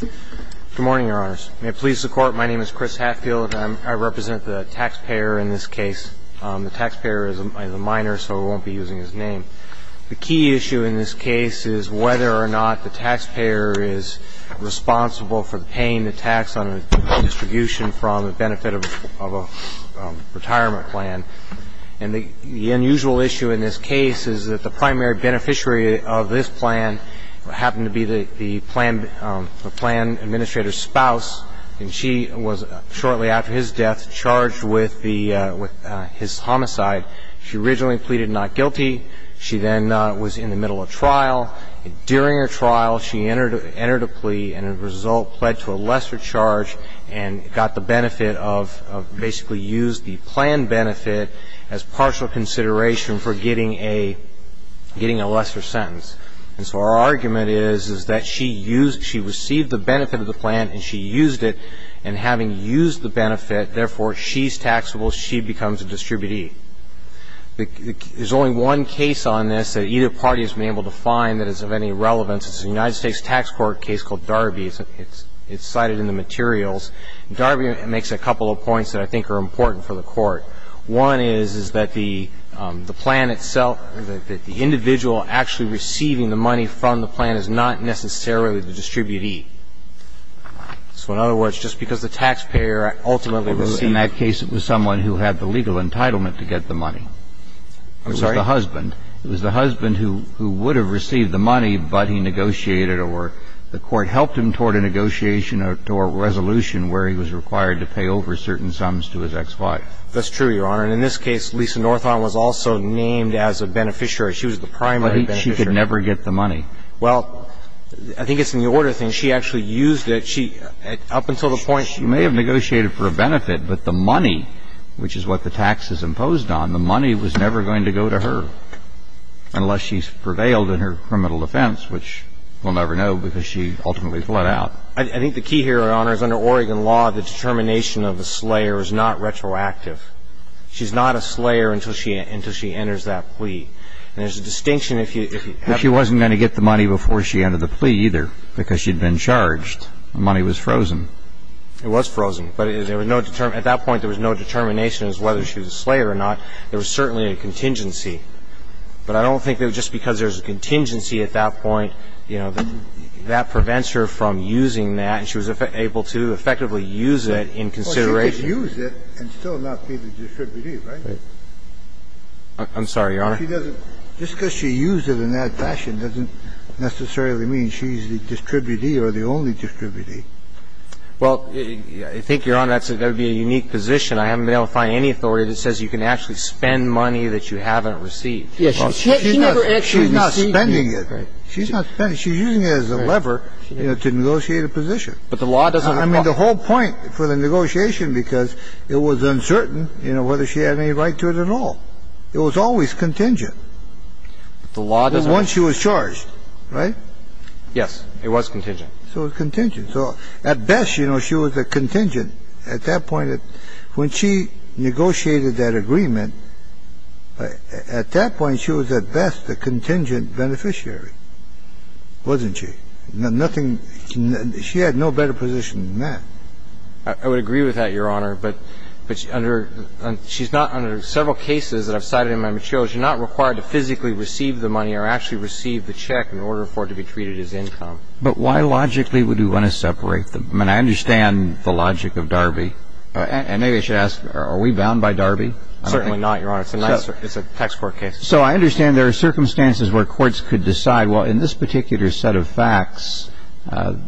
Good morning, Your Honors. May it please the Court, my name is Chris Hatfield. I represent the taxpayer in this case. The taxpayer is a minor, so we won't be using his name. The key issue in this case is whether or not the taxpayer is responsible for paying the tax on a distribution from the benefit of a retirement plan. And the unusual issue in this case is that the primary beneficiary of this plan happened to be the plan administrator's spouse, and she was, shortly after his death, charged with his homicide. She originally pleaded not guilty. She then was in the middle of trial. During her trial, she entered a plea and, as a result, pled to a lesser charge and got the benefit of basically used the plan benefit as partial consideration for getting a lesser sentence. And so our argument is that she received the benefit of the plan and she used it, and having used the benefit, therefore she's taxable, she becomes a distributee. There's only one case on this that either party has been able to find that is of any relevance. It's a United States Tax Court case called Darby. It's cited in the materials. Darby makes a couple of points that I think are important for the Court. One is, is that the plan itself, that the individual actually receiving the money from the plan is not necessarily the distributee. So in other words, just because the taxpayer ultimately received the money. In that case, it was someone who had the legal entitlement to get the money. I'm sorry? It was the husband. It was the husband who would have received the money, but he negotiated or the Court helped him toward a negotiation or toward a resolution where he was required to pay over certain sums to his ex-wife. That's true, Your Honor. And in this case, Lisa Northon was also named as a beneficiary. She was the primary beneficiary. But she could never get the money. Well, I think it's in the order of things. She actually used it. She, up until the point she was ---- She may have negotiated for a benefit, but the money, which is what the tax is imposed on, the money was never going to go to her unless she prevailed in her criminal defense, which we'll never know because she ultimately fled out. I think the key here, Your Honor, is under Oregon law, the determination of a slayer is not retroactive. She's not a slayer until she enters that plea. And there's a distinction if you have to ---- But she wasn't going to get the money before she entered the plea either because she'd been charged. The money was frozen. It was frozen, but there was no determination. At that point, there was no determination as to whether she was a slayer or not. There was certainly a contingency. But I don't think that just because there's a contingency at that point, you know, that prevents her from using that, and she was able to effectively use it in consideration. Well, she could use it and still not be the distributee, right? I'm sorry, Your Honor. She doesn't ---- just because she used it in that fashion doesn't necessarily mean she's the distributee or the only distributee. Well, I think, Your Honor, that would be a unique position. I haven't been able to find any authority that says you can actually spend money that you haven't received. Yes. She never actually received it. She's not spending it. She's not spending it. She's using it as a lever. She's using it as a lever to negotiate a position. But the law doesn't ---- I mean, the whole point for the negotiation, because it was uncertain, you know, whether she had any right to it at all. It was always contingent. The law doesn't ---- Once she was charged, right? Yes. It was contingent. So it was contingent. So at best, you know, she was a contingent at that point. When she negotiated that agreement, at that point, she was at best a contingent beneficiary, wasn't she? Nothing ---- she had no better position than that. I would agree with that, Your Honor. But under ---- she's not under several cases that I've cited in my materials. You're not required to physically receive the money or actually receive the check in order for it to be treated as income. But why logically would you want to separate them? I mean, I understand the logic of Darby. And maybe I should ask, are we bound by Darby? Certainly not, Your Honor. It's a nice ---- it's a tax court case. So I understand there are circumstances where courts could decide, well, in this particular set of facts,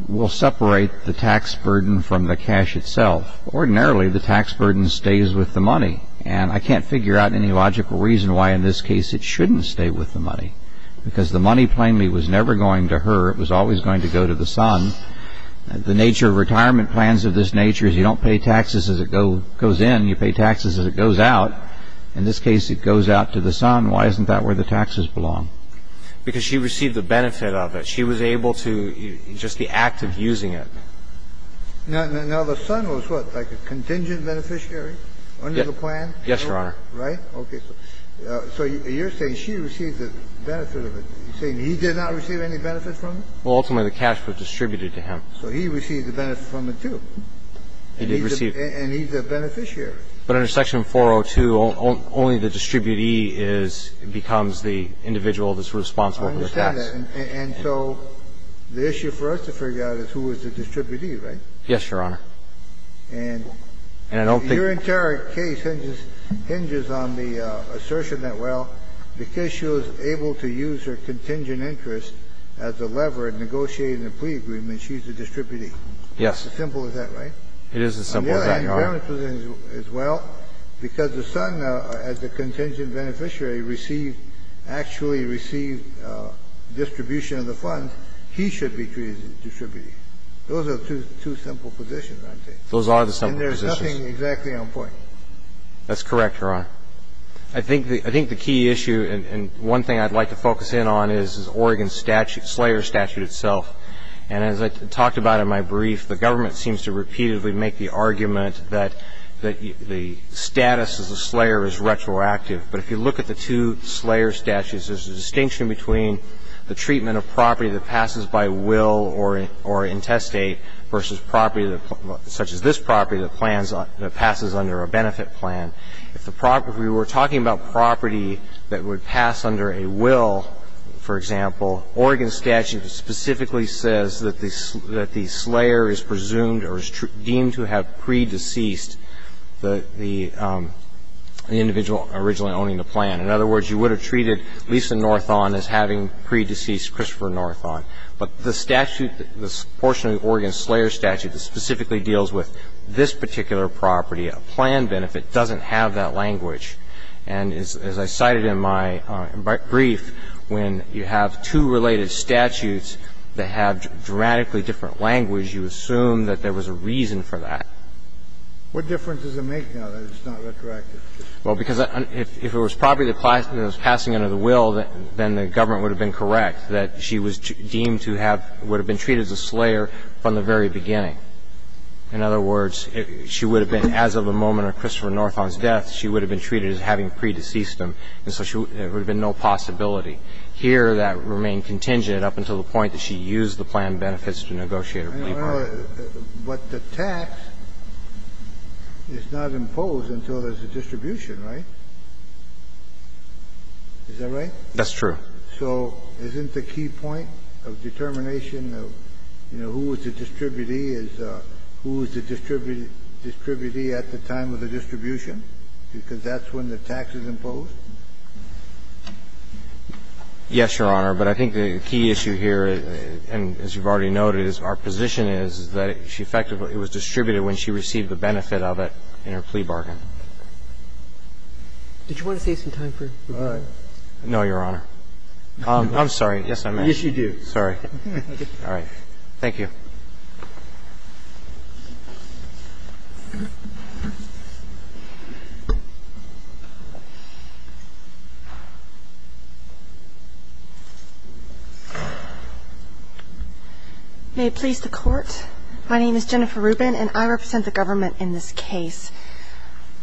we'll separate the tax burden from the cash itself. Ordinarily, the tax burden stays with the money. And I can't figure out any logical reason why in this case it shouldn't stay with the money. Because the money plainly was never going to her. It was always going to go to the son. The nature of retirement plans of this nature is you don't pay taxes as it goes in, you pay taxes as it goes out. In this case, it goes out to the son. Why isn't that where the taxes belong? Because she received the benefit of it. She was able to just the act of using it. Now, the son was what, like a contingent beneficiary under the plan? Yes, Your Honor. Right? Okay. So you're saying she received the benefit of it. You're saying he did not receive any benefit from it? Well, ultimately, the cash was distributed to him. So he received the benefit from it, too. He did receive it. And he's a beneficiary. But under Section 402, only the distributee is the individual that's responsible for the tax. I understand that. And so the issue for us to figure out is who is the distributee, right? Yes, Your Honor. And your entire case hinges on the assertion that, well, because she was able to use her contingent interest as a lever in negotiating the plea agreement, she's the distributee. Yes. It's as simple as that, right? It is as simple as that, Your Honor. The government's position is, well, because the son, as the contingent beneficiary, received actually received distribution of the funds, he should be treated as a distributee. Those are two simple positions, aren't they? Those are the simple positions. And there's nothing exactly on point. That's correct, Your Honor. I think the key issue and one thing I'd like to focus in on is Oregon's statute, Slayer's statute itself. And as I talked about in my brief, the government seems to repeatedly make the argument that the status as a Slayer is retroactive. But if you look at the two Slayer statutes, there's a distinction between the treatment of property that passes by will or intestate versus property such as this property that plans on to pass under a benefit plan. If the property we're talking about property that would pass under a will, for example, Oregon's statute specifically says that the Slayer is presumed or is deemed to have pre-deceased the individual originally owning the plan. In other words, you would have treated Lisa Northon as having pre-deceased Christopher Northon. But the statute, the portion of the Oregon Slayer statute that specifically deals with this particular property, a plan benefit, doesn't have that language. And as I cited in my brief, when you have two related statutes that have dramatically different language, you assume that there was a reason for that. Kennedy, what difference does it make now that it's not retroactive? Well, because if it was property that was passing under the will, then the government would have been correct that she was deemed to have been treated as a Slayer from the very beginning. In other words, she would have been, as of the moment of Christopher Northon's death, she would have been treated as having pre-deceased him. And so there would have been no possibility. Here, that remained contingent up until the point that she used the plan benefits to negotiate a plea bargain. But the tax is not imposed until there's a distribution, right? Is that right? That's true. So isn't the key point of determination of, you know, who is the distributee is who is the distributee at the time of the distribution, because that's when the tax is imposed? Yes, Your Honor. But I think the key issue here, and as you've already noted, is our position is that she effectively was distributed when she received the benefit of it in her plea bargain. Did you want to save some time for? No, Your Honor. I'm sorry. Yes, I'm asking. Yes, you do. Sorry. All right. Thank you. May it please the Court, my name is Jennifer Rubin, and I represent the government in this case.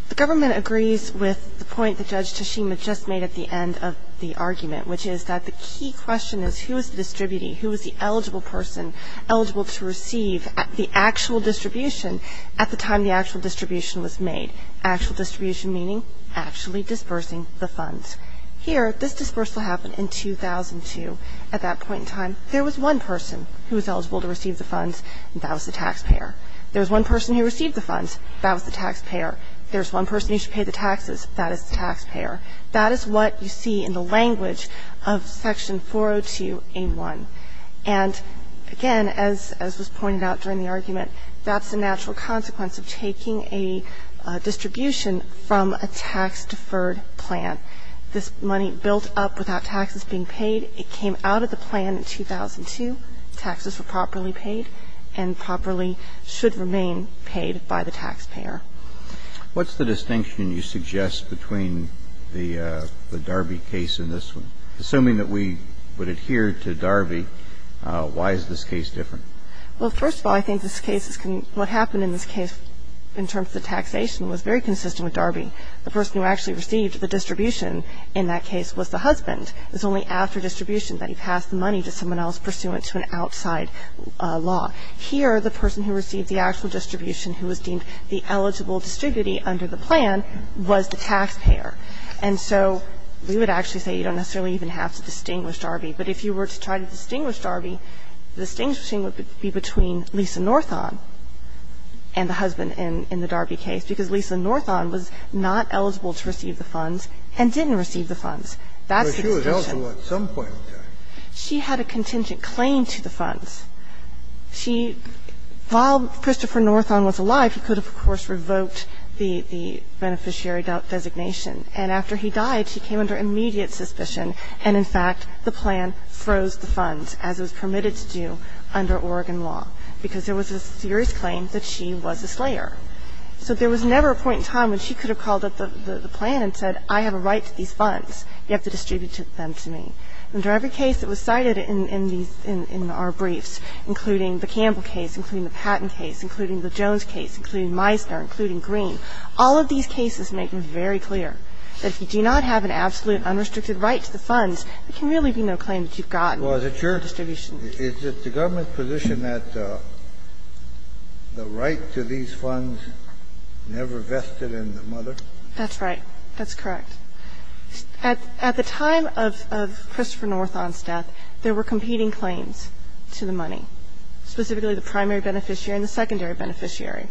The government agrees with the point that Judge Tashima just made at the end of the argument, which is that the key question is who is the distributee, who is the eligible person eligible to receive the actual distribution at the time the actual distribution was made? Actual distribution meaning actually dispersing the funds. Here, this dispersal happened in 2002. At that point in time, there was one person who was eligible to receive the funds, and that was the taxpayer. There was one person who received the funds, that was the taxpayer. There's one person who should pay the taxes, that is the taxpayer. That is what you see in the language of Section 402A1. And again, as was pointed out during the argument, that's a natural consequence of taking a distribution from a tax-deferred plan. This money built up without taxes being paid, it came out of the plan in 2002. Taxes were properly paid and properly should remain paid by the taxpayer. What's the distinction you suggest between the Darby case and this one? Assuming that we would adhere to Darby, why is this case different? Well, first of all, I think this case is what happened in this case in terms of the taxation was very consistent with Darby. The person who actually received the distribution in that case was the husband. It's only after distribution that he passed the money to someone else pursuant to an outside law. Here, the person who received the actual distribution who was deemed the eligible distributee under the plan was the taxpayer. And so we would actually say you don't necessarily even have to distinguish Darby. But if you were to try to distinguish Darby, the distinction would be between Lisa Northon and the husband in the Darby case, because Lisa Northon was not eligible to receive the funds and didn't receive the funds. That's the distinction. But she was eligible at some point in time. She had a contingent claim to the funds. She – while Christopher Northon was alive, he could have, of course, revoked the beneficiary designation. And after he died, she came under immediate suspicion. And, in fact, the plan froze the funds, as it was permitted to do under Oregon law, because there was a serious claim that she was a slayer. So there was never a point in time when she could have called up the plan and said, I have a right to these funds. You have to distribute them to me. Under every case that was cited in these – in our briefs, including the Campbell case, including the Patten case, including the Jones case, including Meisner, including Green, all of these cases make them very clear. That if you do not have an absolute, unrestricted right to the funds, there can really be no claim that you've gotten. Kennedy, was it your – is it the government's position that the right to these funds never vested in the mother? That's right. That's correct. At the time of Christopher Northon's death, there were competing claims to the money, specifically the primary beneficiary and the secondary beneficiary.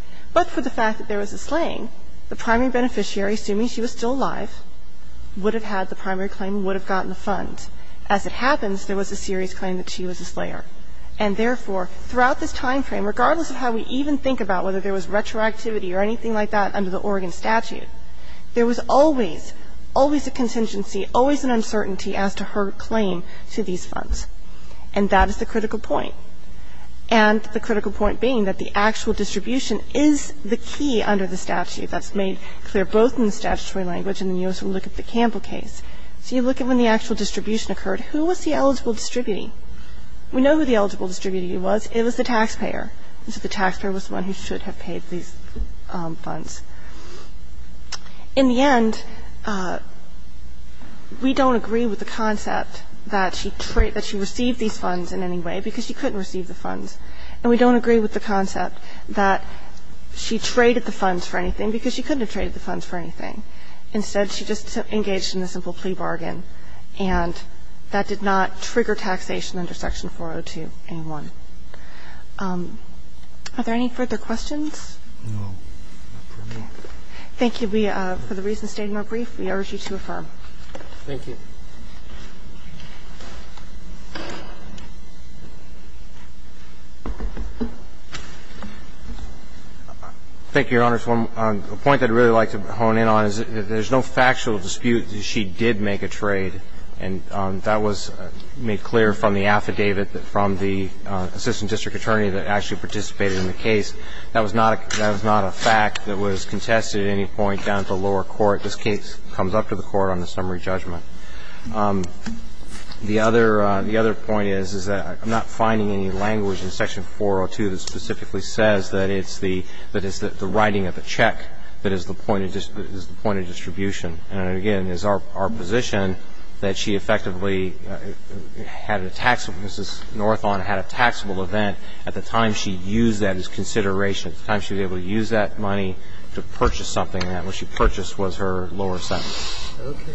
she was still alive, would have had the primary claim, would have gotten the funds. As it happens, there was a serious claim that she was a slayer. And therefore, throughout this timeframe, regardless of how we even think about whether there was retroactivity or anything like that under the Oregon statute, there was always, always a contingency, always an uncertainty as to her claim to these funds. And that is the critical point. And the critical point being that the actual distribution is the key under the statutory language in the U.S. when we look at the Campbell case. So you look at when the actual distribution occurred, who was the eligible distributee? We know who the eligible distributee was. It was the taxpayer. And so the taxpayer was the one who should have paid these funds. In the end, we don't agree with the concept that she received these funds in any way because she couldn't receive the funds. And we don't agree with the concept that she traded the funds for anything because she couldn't have traded the funds for anything. Instead, she just engaged in a simple plea bargain. And that did not trigger taxation under Section 402A1. Are there any further questions? Thank you. We, for the reasons stated in my brief, we urge you to affirm. Thank you. Thank you, Your Honors. A point I'd really like to hone in on is that there's no factual dispute that she did make a trade. And that was made clear from the affidavit from the assistant district attorney that actually participated in the case. That was not a fact that was contested at any point down at the lower court. This case comes up to the court on the summary judgment. The other point is that I'm not finding any language in Section 402 that specifically says that it's the writing of the check that is the point of distribution. And again, it's our position that she effectively had a taxable, Mrs. Northon had a taxable event at the time she used that as consideration, at the time she was able to use that money to purchase something. And what she purchased was her lower settlement. Okay.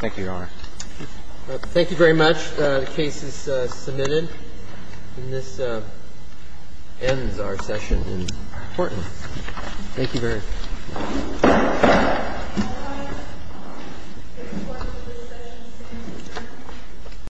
Thank you, Your Honor. Thank you very much. The case is submitted. And this ends our session in court. Thank you very much.